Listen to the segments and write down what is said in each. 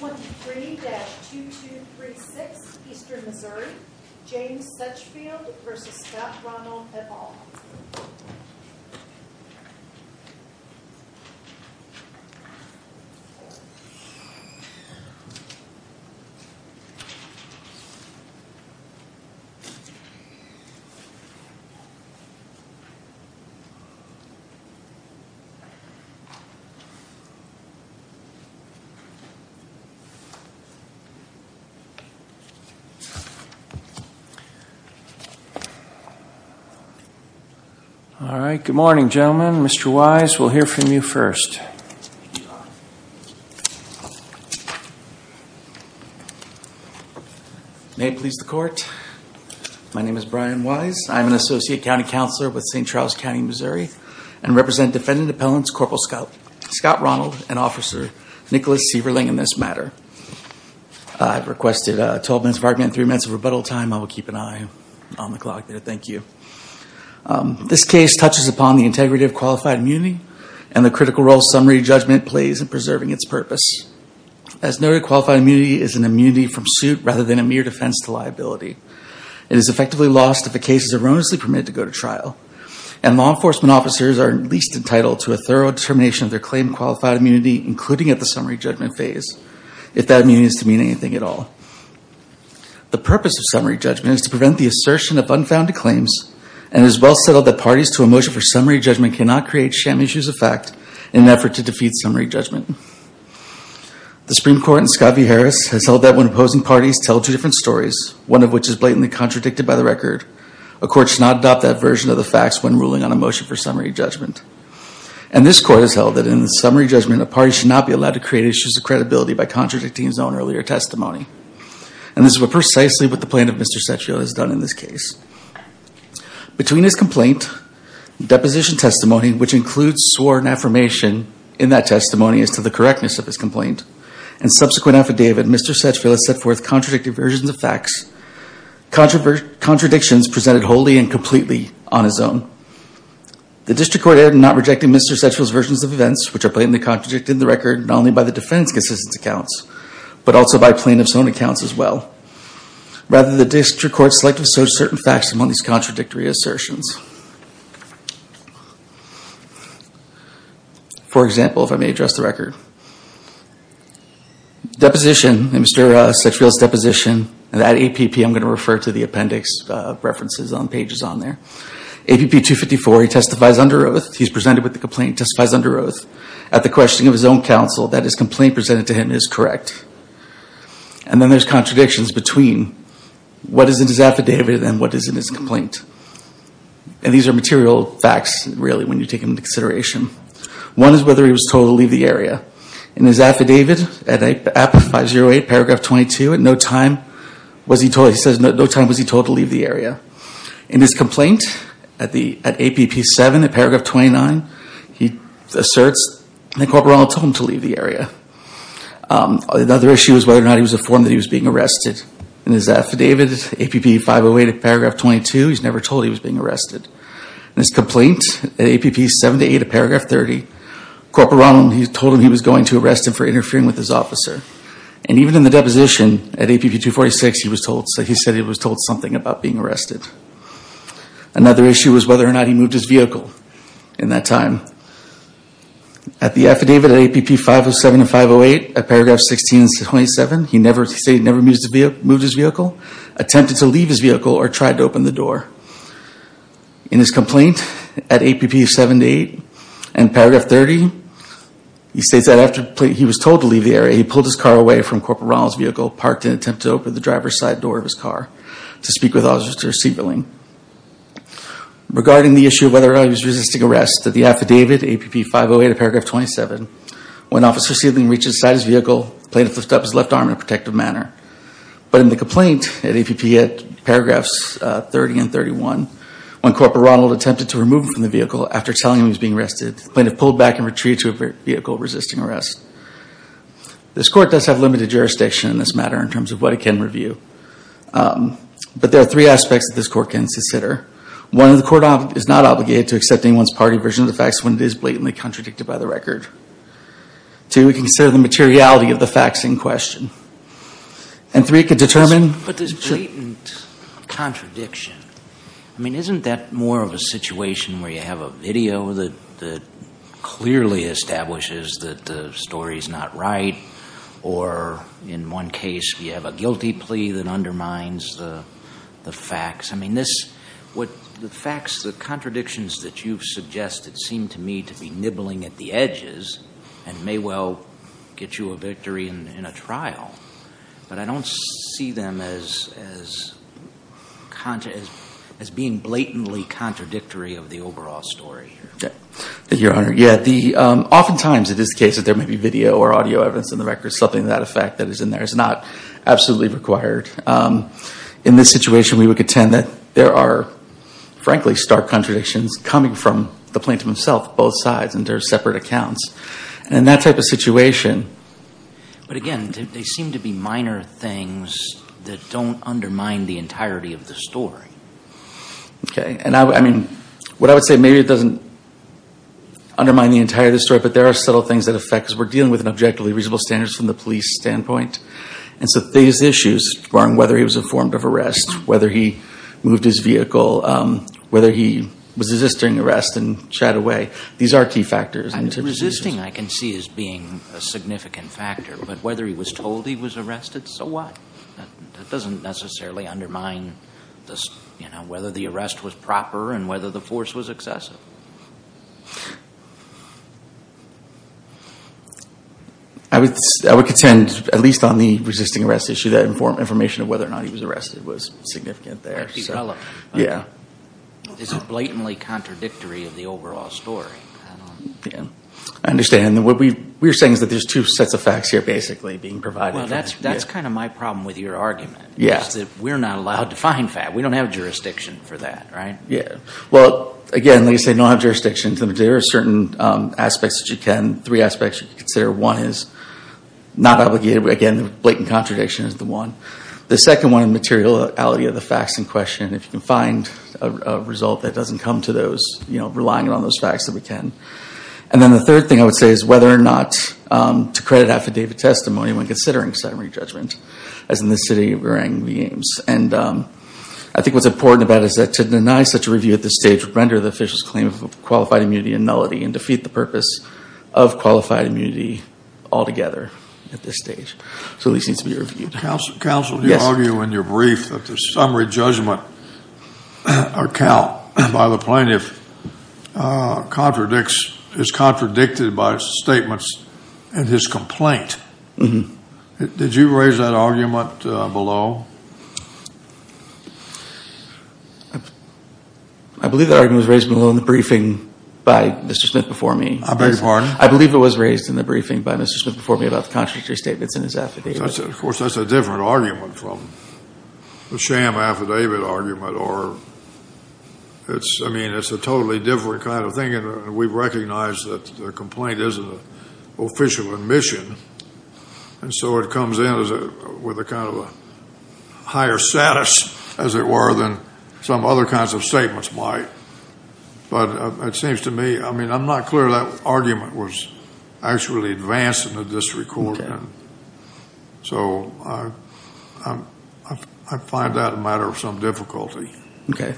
23-2236 Eastern Missouri James Setchfield v. Scott Ronald et al. All right, good morning gentlemen, Mr. Wise, we'll hear from you first. May it please the court, my name is Brian Wise, I'm an Associate County Counselor with Scott Ronald and Officer Nicholas Severling in this matter. I've requested a 12 minutes of argument, 3 minutes of rebuttal time, I will keep an eye on the clock there, thank you. This case touches upon the integrity of qualified immunity and the critical role summary judgment plays in preserving its purpose. As noted, qualified immunity is an immunity from suit rather than a mere defense to liability. It is effectively lost if a case is erroneously permitted to go to trial and law enforcement officers are at least entitled to a thorough determination of their claim qualified immunity, including at the summary judgment phase, if that means to mean anything at all. The purpose of summary judgment is to prevent the assertion of unfounded claims and is well settled that parties to a motion for summary judgment cannot create sham issues of fact in an effort to defeat summary judgment. The Supreme Court in Scott v. Harris has held that when opposing parties tell two different stories, one of which is blatantly contradicted by the record, a court should not adopt that version of the facts when presenting a summary judgment. And this court has held that in the summary judgment, a party should not be allowed to create issues of credibility by contradicting its own earlier testimony. And this is precisely what the plaintiff, Mr. Satchfield, has done in this case. Between his complaint, deposition testimony, which includes sworn affirmation in that testimony as to the correctness of his complaint, and subsequent affidavit, Mr. Satchfield has set forth contradicted versions of facts, contradictions presented wholly and completely on his own. The district court has not rejected Mr. Satchfield's versions of events, which are blatantly contradicted in the record, not only by the defendant's consistent accounts, but also by plaintiff's own accounts as well. Rather, the district court selectively asserts certain facts among these contradictory assertions. For example, if I may address the record, deposition, Mr. Satchfield's deposition, and that APP, I'm going to refer to the APP 254, he testifies under oath, he's presented with the complaint, testifies under oath, at the questioning of his own counsel that his complaint presented to him is correct. And then there's contradictions between what is in his affidavit and what is in his complaint. And these are material facts, really, when you take into consideration. One is whether he was told to leave the area. In his affidavit, at APP 508, paragraph 22, at no time was he told, he says, no time was he told to leave the area. In his complaint, at APP 7, at paragraph 29, he asserts that Corporal Ronald told him to leave the area. Another issue is whether or not he was informed that he was being arrested. In his affidavit, APP 508, paragraph 22, he's never told he was being arrested. In his complaint, at APP 7 to 8, at paragraph 30, Corporal Ronald, he told him he was going to arrest him for interfering with his officer. And even in the deposition, at APP 246, he was told, something about being arrested. Another issue was whether or not he moved his vehicle in that time. At the affidavit, at APP 507 and 508, at paragraph 16 and 27, he never, he said he never moved his vehicle, attempted to leave his vehicle, or tried to open the door. In his complaint, at APP 7 to 8, and paragraph 30, he states that after he was told to leave the area, he pulled his car away from Corporal Ronald's vehicle, parked, and attempted to open the driver's side door of his car, to speak with Officer Siebeling. Regarding the issue of whether or not he was resisting arrest, at the affidavit, APP 508, at paragraph 27, when Officer Siebeling reached inside his vehicle, the plaintiff lifted up his left arm in a protective manner. But in the complaint, at APP, at paragraphs 30 and 31, when Corporal Ronald attempted to remove him from the vehicle after telling him he was being arrested, the plaintiff pulled back and retreated to a vehicle resisting arrest. This court does have limited jurisdiction in this matter, in terms of what it can review. But there are three aspects that this court can consider. One, the court is not obligated to accept anyone's party version of the facts when it is blatantly contradicted by the record. Two, it can consider the materiality of the facts in question. And three, it can determine... But this blatant contradiction, I mean, isn't that more of a situation where you have a video that clearly establishes that the story is not right? Or in one case, you have a guilty plea that undermines the facts? I mean, this... The facts, the contradictions that you've suggested seem to me to be nibbling at the edges and may well get you a victory in a trial. But I think you're right. Oftentimes, it is the case that there may be video or audio evidence in the record, something to that effect that is in there. It's not absolutely required. In this situation, we would contend that there are, frankly, stark contradictions coming from the plaintiff himself, both sides, and there are separate accounts. And in that type of situation... But again, they seem to be minor things that don't undermine the entirety of the story. Okay. And I mean, what I would say, maybe it doesn't undermine the entirety of the story, but there are subtle things that affect us. We're dealing with an objectively reasonable standards from the police standpoint. And so these issues, whether he was informed of arrest, whether he moved his vehicle, whether he was resisting arrest and shied away, these are key factors. Resisting, I can see as being a significant factor. But whether he was told he was arrested, so what? That doesn't necessarily undermine whether the arrest was proper and whether the force was excessive. I would contend, at least on the resisting arrest issue, that information of whether or not he was arrested was significant there. Yeah. It's blatantly contradictory of the overall story. I understand. And what we're saying is that there's two sets of facts here, basically, being provided. Well, that's kind of my problem with your argument. Yes. That we're not allowed to find facts. We don't have jurisdiction for that, right? Yeah. Well, again, like I say, we don't have jurisdiction. There are certain aspects that you can, three aspects you can consider. One is not obligated, but again, the blatant contradiction is the one. The second one is the materiality of the facts in question. If you can find a result that doesn't come to those, relying on those facts, then we can. And then the third thing I would say is whether or not to credit affidavit testimony when considering summary judgment, as in the city of Burang v. Ames. And I think what's important about it is that to deny such a review at this stage would render the official's claim of qualified immunity a nullity and defeat the purpose of qualified immunity altogether at this stage. So these need to be reviewed. Counsel, do you argue in your brief that the summary judgment or count by the plaintiff contradicts, is contradicted by statements in his complaint? Did you raise that argument below? I believe that argument was raised below in the briefing by Mr. Smith before me. I beg your pardon? I believe it was raised in the briefing by Mr. Smith before me about the contradictory statements in his affidavit. Of course, that's a different argument from the sham affidavit argument, or it's, I mean, it's a official admission. And so it comes in with a kind of a higher status, as it were, than some other kinds of statements might. But it seems to me, I mean, I'm not clear that argument was actually advanced in the district court. So I find that a matter of some difficulty. Okay.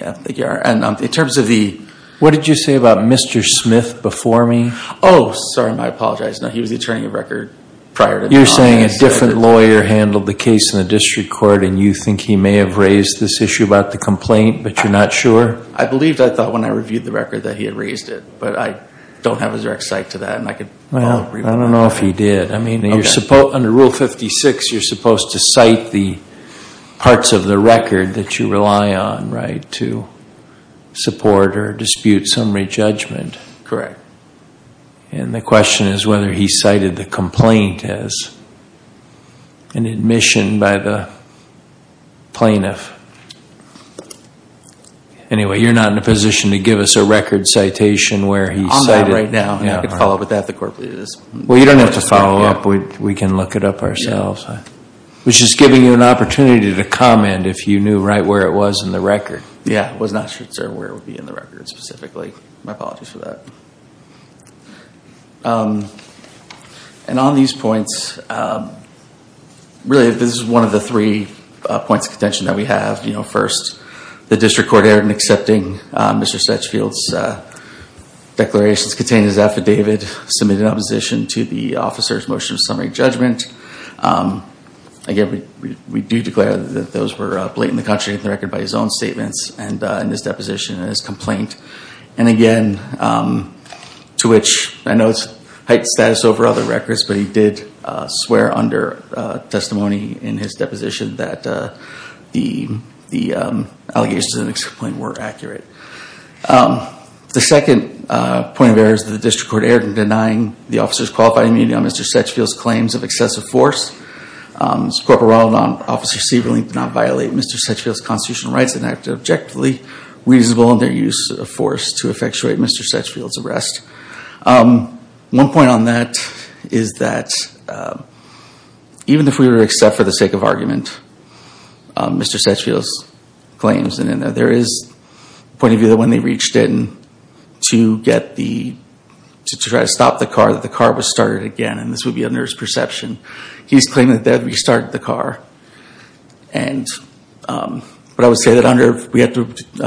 Yeah. And in terms of the... What did you say about Mr. Smith before me? Oh, sorry, I apologize. No, he was the attorney of record prior to... You're saying a different lawyer handled the case in the district court, and you think he may have raised this issue about the complaint, but you're not sure? I believed, I thought, when I reviewed the record that he had raised it. But I don't have a direct cite to that, and I could... Well, I don't know if he did. I mean, you're supposed, under Rule 56, you're supposed to cite the parts of the record that you rely on, right, to support or dispute summary judgment. Correct. And the question is whether he cited the complaint as an admission by the plaintiff. Anyway, you're not in a position to give us a record citation where he cited... On that right now. I could follow up with that if the court pleases. Well, you don't have to follow up. We can look it up ourselves. I was just giving you an opportunity to comment if you knew right where it was in the record. Yeah, I was not sure where it would be in the record specifically. My apologies for that. And on these points, really, this is one of the three points of contention that we have. First, the district court erred in accepting Mr. Sedgefield's declarations containing his affidavit, submitted an opposition to the officer's motion of summary judgment. Again, we do declare that those were blatantly contradicting the record by his own statements and in his deposition and his complaint. And again, to which I know it's heightened status over other records, but he did swear under testimony in his deposition that the allegations in the complaint were accurate. The second point of error is that the district court erred in denying the officer's qualified immunity on Mr. Sedgefield's claims of excessive force. Corporal Ronaldon, Officer Sieberling did not violate Mr. Sedgefield's constitutional rights and acted objectively, reasonable in their use of force to effectuate Mr. Sedgefield's arrest. One point on that is that even if we were to accept for the sake of argument Mr. Sedgefield's claims, there is a point of view that when they reached in to try to stop the car, that the car was started again. And this would be under his perception. He's claiming that they had restarted the car. But I would say that under, we have to... Say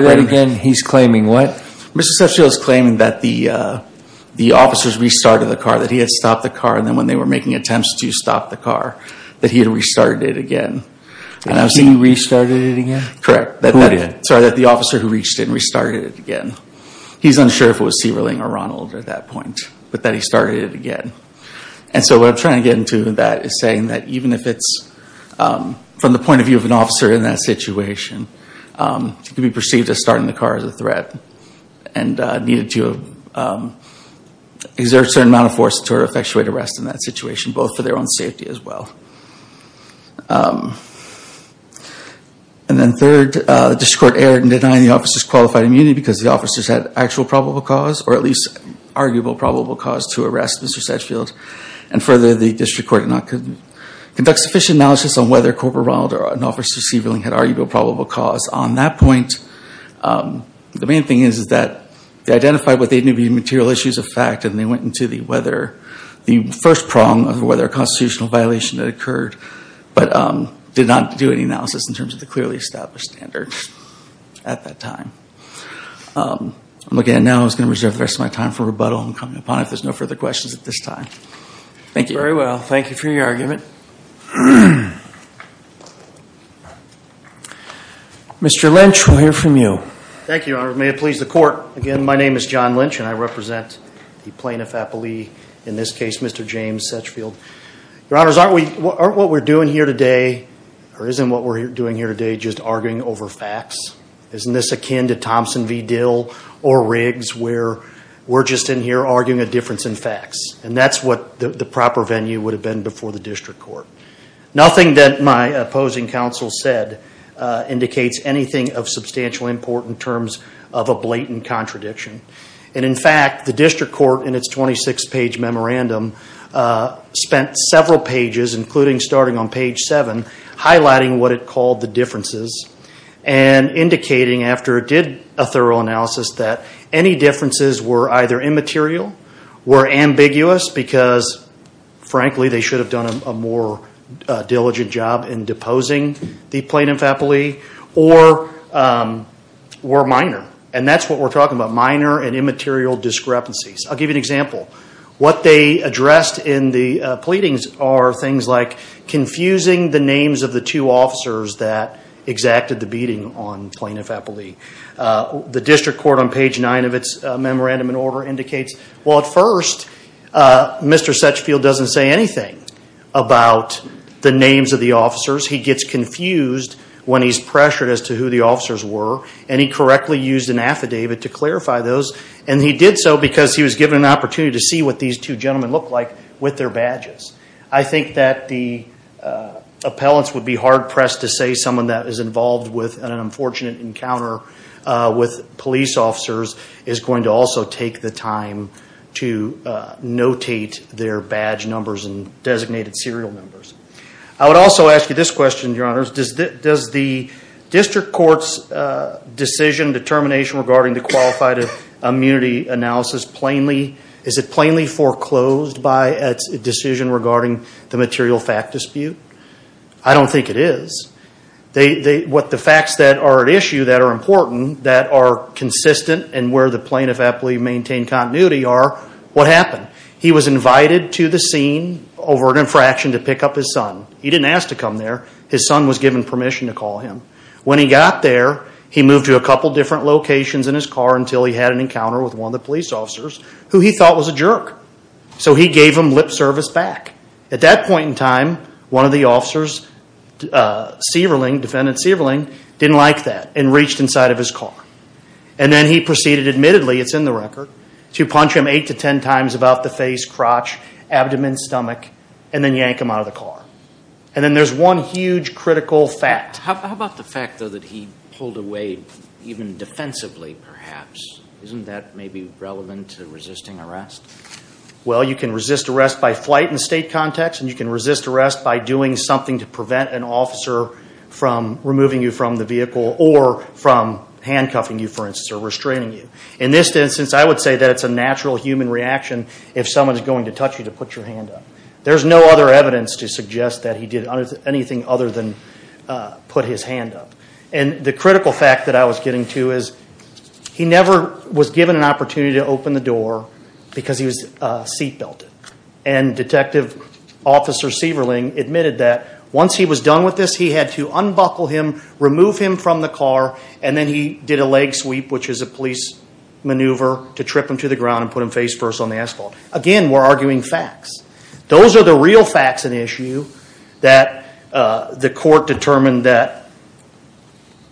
that again, he's claiming what? Mr. Sedgefield's claiming that the officers restarted the car, that he had stopped the car and then when they were making attempts to stop the car, that he had restarted it again. He restarted it again? Correct. Who did? Sorry, that the officer who reached in restarted it again. He's unsure if it was Sieberling or Ronald at that point, but that he started it again. And so what I'm trying to get into that is saying that even if it's, from the point of view of an officer in that situation, it could be perceived as starting the car as a threat and needed to exert a certain amount of force to effectuate arrest in that situation, both for their own safety as well. And then third, the District Court erred in denying the officers qualified immunity because the officers had actual probable cause or at least arguable probable cause to arrest Mr. Sedgefield. And further, the District Court could not conduct sufficient analysis on whether Corporal Ronald or an officer Sieberling had arguable probable cause on that point. The main thing is that they identified what they knew to be material issues of fact and they went into the first prong of whether a constitutional violation had occurred, but did not do any analysis in terms of the clearly established standards at that time. Again, now I was going to reserve the rest of my time for rebuttal and coming upon it if there's no further questions at this time. Thank you. Very well. Thank you for your argument. Mr. Lynch, we'll hear from you. Thank you, Your Honor. May it please the Court. Again, my name is John Lynch and I represent the plaintiff, Apolli, in this case, Mr. James Sedgefield. Your Honors, aren't we, aren't what we're doing here today, or isn't what we're doing here today just arguing over facts? Isn't this akin to Thompson v. Dill or Riggs where we're just in here arguing a difference in facts? And that's what the proper venue would have been before the District Court. Nothing that my opposing counsel said indicates anything of substantial import in terms of a blatant contradiction. And in fact, the District Court, in its 26-page memorandum, spent several pages, including starting on page 7, highlighting what it called the differences and indicating after it did a thorough Frankly, they should have done a more diligent job in deposing the plaintiff, Apolli, or minor. And that's what we're talking about, minor and immaterial discrepancies. I'll give you an example. What they addressed in the pleadings are things like confusing the names of the two officers that exacted the beating on plaintiff, Apolli. The District Court, on page 9 of its memorandum and Mr. Setchfield doesn't say anything about the names of the officers. He gets confused when he's pressured as to who the officers were. And he correctly used an affidavit to clarify those. And he did so because he was given an opportunity to see what these two gentlemen looked like with their badges. I think that the appellants would be hard-pressed to say someone that is involved with an their badge numbers and designated serial numbers. I would also ask you this question, Your Honors. Does the District Court's decision, determination regarding the qualified immunity analysis plainly, is it plainly foreclosed by a decision regarding the material fact dispute? I don't think it is. What the facts that are at issue, that are important, that are consistent and where the to the scene over an infraction to pick up his son. He didn't ask to come there. His son was given permission to call him. When he got there, he moved to a couple different locations in his car until he had an encounter with one of the police officers who he thought was a jerk. So he gave him lip service back. At that point in time, one of the officers, defendant Severling, didn't like that and reached inside of his car. And then he proceeded admittedly, it's in the record, to punch him 8 to 10 times about the face, crotch, abdomen, stomach and then yank him out of the car. And then there's one huge critical fact. How about the fact though that he pulled away even defensively perhaps? Isn't that maybe relevant to resisting arrest? Well, you can resist arrest by flight in the state context and you can resist arrest by doing something to prevent an officer from removing you from the vehicle or from handcuffing you, for instance, or restraining you. In this instance, I would say that it's a natural human reaction if someone is going to touch you to put your hand up. There's no other evidence to suggest that he did anything other than put his hand up. And the critical fact that I was getting to is he never was given an opportunity to open the door because he was seat belted. And Detective Officer Severling admitted that once he was done with this, he had to unbuckle him, remove him from the car and then he did a leg maneuver to trip him to the ground and put him face first on the asphalt. Again, we're arguing facts. Those are the real facts of the issue that the court determined that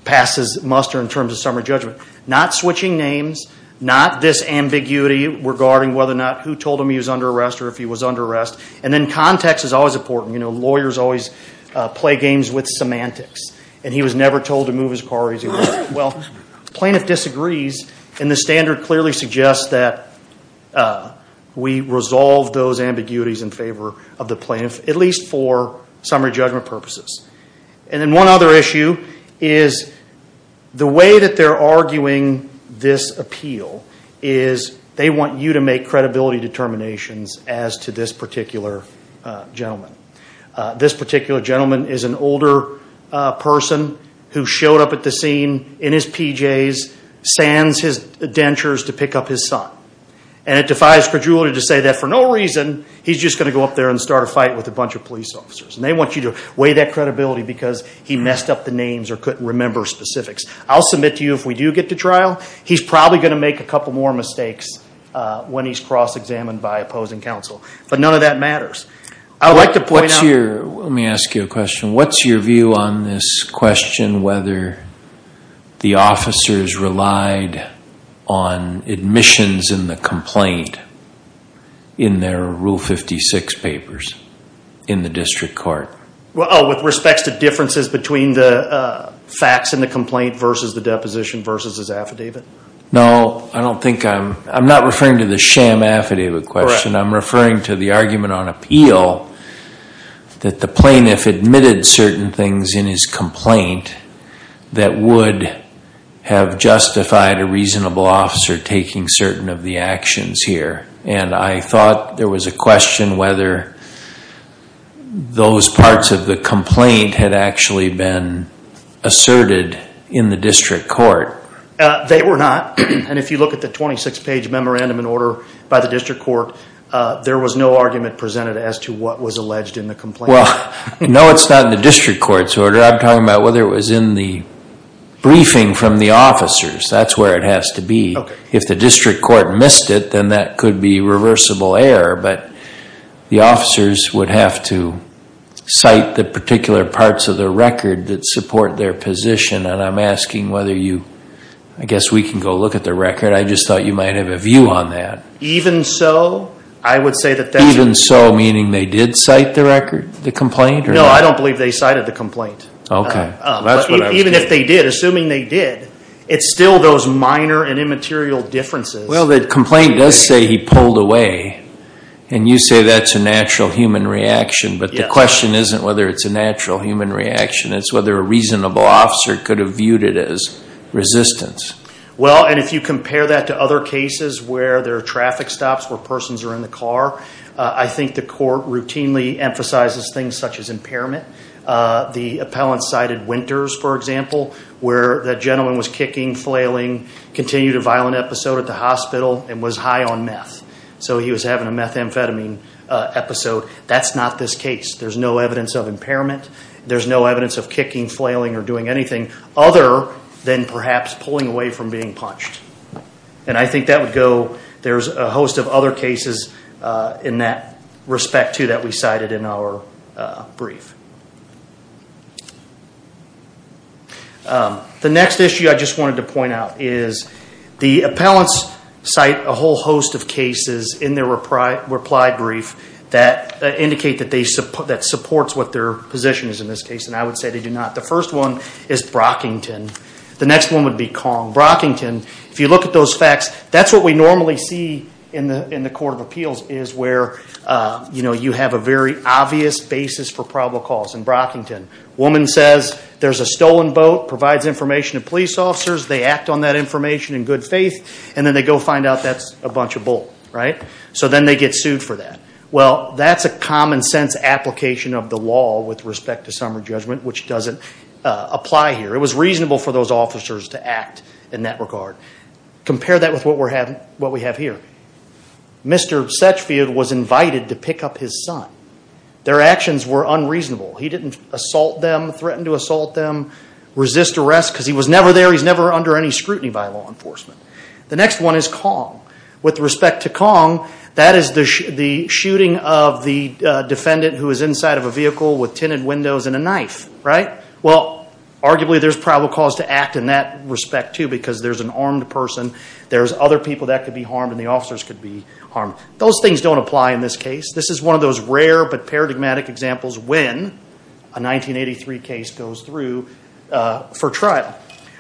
passes muster in terms of summary judgment. Not switching names, not this ambiguity regarding whether or not who told him he was under arrest or if he was under arrest. And then context is always important. You know, lawyers always play games with semantics. And he standard clearly suggests that we resolve those ambiguities in favor of the plaintiff, at least for summary judgment purposes. And then one other issue is the way that they're arguing this appeal is they want you to make credibility determinations as to this particular gentleman. This particular gentleman is an older person who stands his dentures to pick up his son. And it defies credulity to say that for no reason he's just going to go up there and start a fight with a bunch of police officers. And they want you to weigh that credibility because he messed up the names or couldn't remember specifics. I'll submit to you if we do get to trial, he's probably going to make a couple more mistakes when he's cross-examined by opposing counsel. But none of that matters. I'd like to abide on admissions in the complaint in their Rule 56 papers in the district court. Oh, with respect to differences between the facts in the complaint versus the deposition versus his affidavit? No, I don't think I'm, I'm not referring to the sham affidavit question. I'm referring to the argument on appeal that the plaintiff admitted certain things in his complaint that would have justified a reasonable officer taking certain of the actions here. And I thought there was a question whether those parts of the complaint had actually been asserted in the district court. They were not. And if you look at the 26-page memorandum in order by the district court, there was no argument Well, no, it's not in the district court's order. I'm talking about whether it was in the briefing from the officers. That's where it has to be. If the district court missed it, then that could be reversible error. But the officers would have to cite the particular parts of the record that support their position. And I'm asking whether you, I guess we can go look at the record. I just thought you might have a view on that. Even so, I would say that that's Even so, meaning they did cite the record, the complaint? No, I don't believe they cited the complaint. Okay. Even if they did, assuming they did, it's still those minor and immaterial differences. Well, the complaint does say he pulled away. And you say that's a natural human reaction. But the question isn't whether it's a natural human reaction. It's whether a reasonable officer could have viewed it as resistance. Well, and if you compare that to other cases where there are traffic stops, where persons are in the car, I think the court routinely emphasizes things such as impairment. The appellant cited Winters, for example, where that gentleman was kicking, flailing, continued a violent episode at the hospital, and was high on meth. So he was having a methamphetamine episode. That's not this case. There's no evidence of impairment. There's no evidence of kicking, flailing, or doing anything other than perhaps pulling away from being punched. And I think that would go, there's a host of other cases in that respect, too, that we cited in our brief. The next issue I just wanted to point out is the appellants cite a whole host of cases in their reply brief that indicate that they, that supports what their position is in this case. And I would say they do not. The first one is Brockington. The next one would be Kong-Brockington. If you look at those facts, that's what we normally see in the Court of Appeals, is where you have a very obvious basis for probable cause in Brockington. Woman says there's a stolen boat, provides information to police officers, they act on that information in good faith, and then they go find out that's a bunch of bull, right? So then they get sued for that. Well, that's a common-sense application of the law with respect to summary judgment, which doesn't apply here. It was reasonable for those officers to act in that regard. Compare that with what we're having, what we have here. Mr. Setchfield was invited to pick up his son. Their actions were unreasonable. He didn't assault them, threaten to assault them, resist arrest, because he was never there. He's never under any scrutiny by law enforcement. The next one is Kong. With respect to Kong, that is the shooting of the Arguably, there's probable cause to act in that respect, too, because there's an armed person, there's other people that could be harmed, and the officers could be harmed. Those things don't apply in this case. This is one of those rare, but paradigmatic examples when a 1983 case goes through for trial.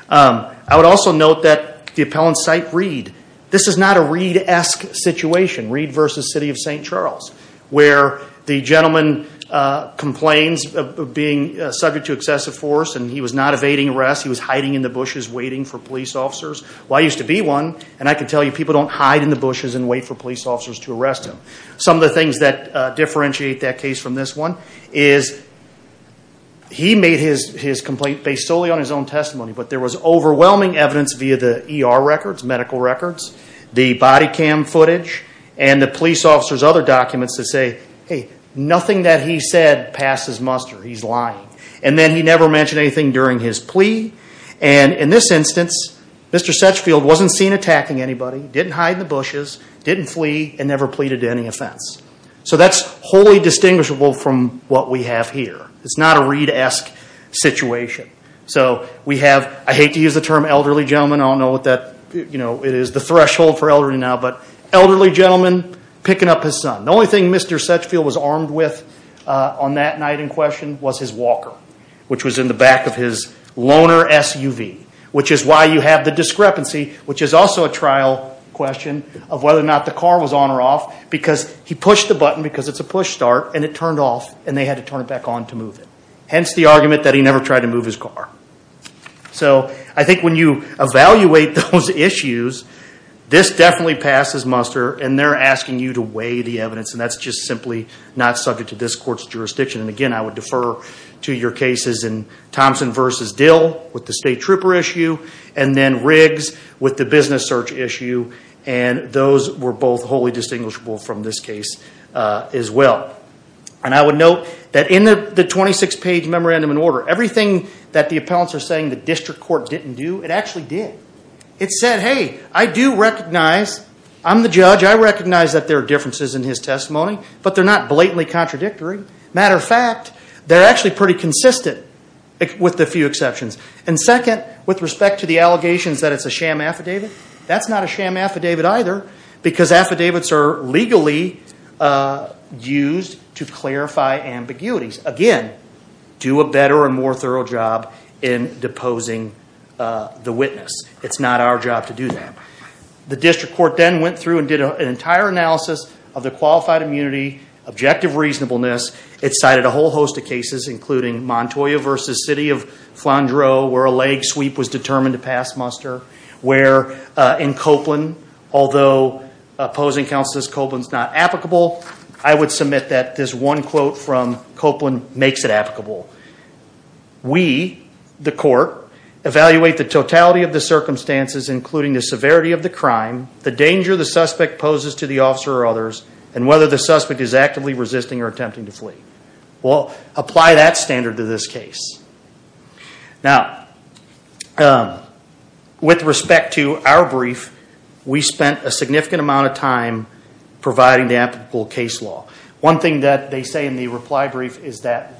I would also note that the appellant cite Reed. This is not a Reed-esque situation, Reed v. City of St. Charles, where the gentleman complains of being subject to excessive force, and he was not evading arrest. He was hiding in the bushes waiting for police officers. Well, I used to be one, and I could tell you people don't hide in the bushes and wait for police officers to arrest him. Some of the things that differentiate that case from this one is he made his complaint based solely on his own testimony, but there was overwhelming evidence via the ER records, medical records, the body cam footage, and the police officers' other documents to say, hey, nothing that he said passes muster. He's lying, and then he never mentioned anything during his plea, and in this instance, Mr. Setchfield wasn't seen attacking anybody, didn't hide in the bushes, didn't flee, and never pleaded to any offense. So that's wholly distinguishable from what we have here. It's not a Reed-esque situation. So we have, I hate to use the term elderly gentleman, I don't know what that, you know, it is the threshold for elderly now, but elderly gentleman picking up his son. The only thing Mr. Setchfield was armed with on that night in question was his walker, which was in the back of his loaner SUV, which is why you have the discrepancy, which is also a trial question of whether or not the car was on or off because he pushed the button because it's a push start and it turned off and they had to turn it back on to move it. Hence the argument that he never tried to move his car. So I think when you evaluate those issues, this definitely passes muster and they're asking you to weigh the evidence and that's just simply not subject to this court's jurisdiction. And again, I would defer to your cases in Thompson v. Dill with the state trooper issue and then Riggs with the business search issue and those were both wholly distinguishable from this case as well. And I would note that in the 26-page memorandum in order, everything that the appellants are saying the district court didn't do, it actually did. It said, hey, I do recognize, I'm the judge, I recognize that there are differences in his testimony, but they're not blatantly contradictory. Matter of fact, they're actually pretty consistent with a few exceptions. And second, with respect to the allegations that it's a sham affidavit, that's not a sham affidavit either because affidavits are legally used to clarify ambiguities. Again, do a better and more thorough job in deposing the witness. It's not our job to do that. The district court then went through and did an entire analysis of the qualified immunity, objective reasonableness. It cited a whole host of cases including Montoya v. City of Flandreau where a leg sweep was determined to pass muster, where in Copeland, although opposing counsel says Copeland's not applicable, I would submit that this one quote from Copeland makes it applicable. We, the court, evaluate the totality of the circumstances, including the severity of the crime, the danger the suspect poses to the officer or others, and whether the suspect is actively resisting or attempting to flee. Well, apply that standard to this case. Now, with respect to our brief, we spent a significant amount of time providing the applicable case law. One thing that they say in the reply brief is that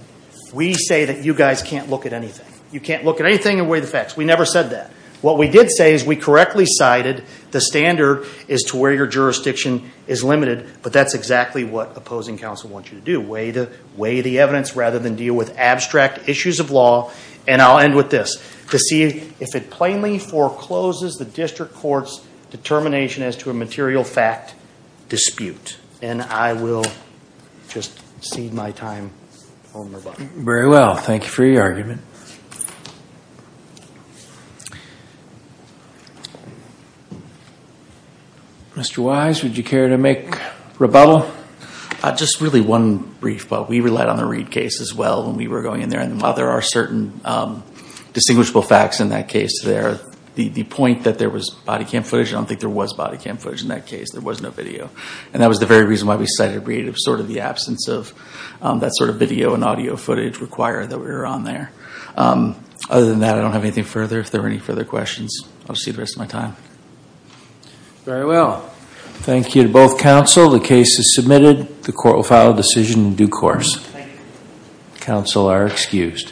we say that you guys can't look at anything. You can't look at anything and weigh the facts. We never said that. What we did say is we correctly cited the standard as to where your jurisdiction is limited, but that's exactly what opposing counsel wants you to do. Weigh the evidence rather than deal with abstract issues of law, and I'll end with this. To see if it plainly forecloses the district court's determination as to a material fact dispute, and I will just cede my time. Very well. Thank you for your argument. Mr. Wise, would you care to make rebuttal? Just really one brief. Well, we relied on the Reid case as well when we were going in there, and while there are certain distinguishable facts in that case there, the point that there was body cam footage, I don't think there was body cam footage in that case. There was no video, and that was the very reason why we cited Reid. It was sort of the absence of that sort of video and audio footage required that we were on there. Other than that, I don't have anything further. If there are any further questions, I'll just cede the rest of my time. Very well. Thank you to both counsel. The case is submitted. The court will file a decision in due course. Counsel are excused.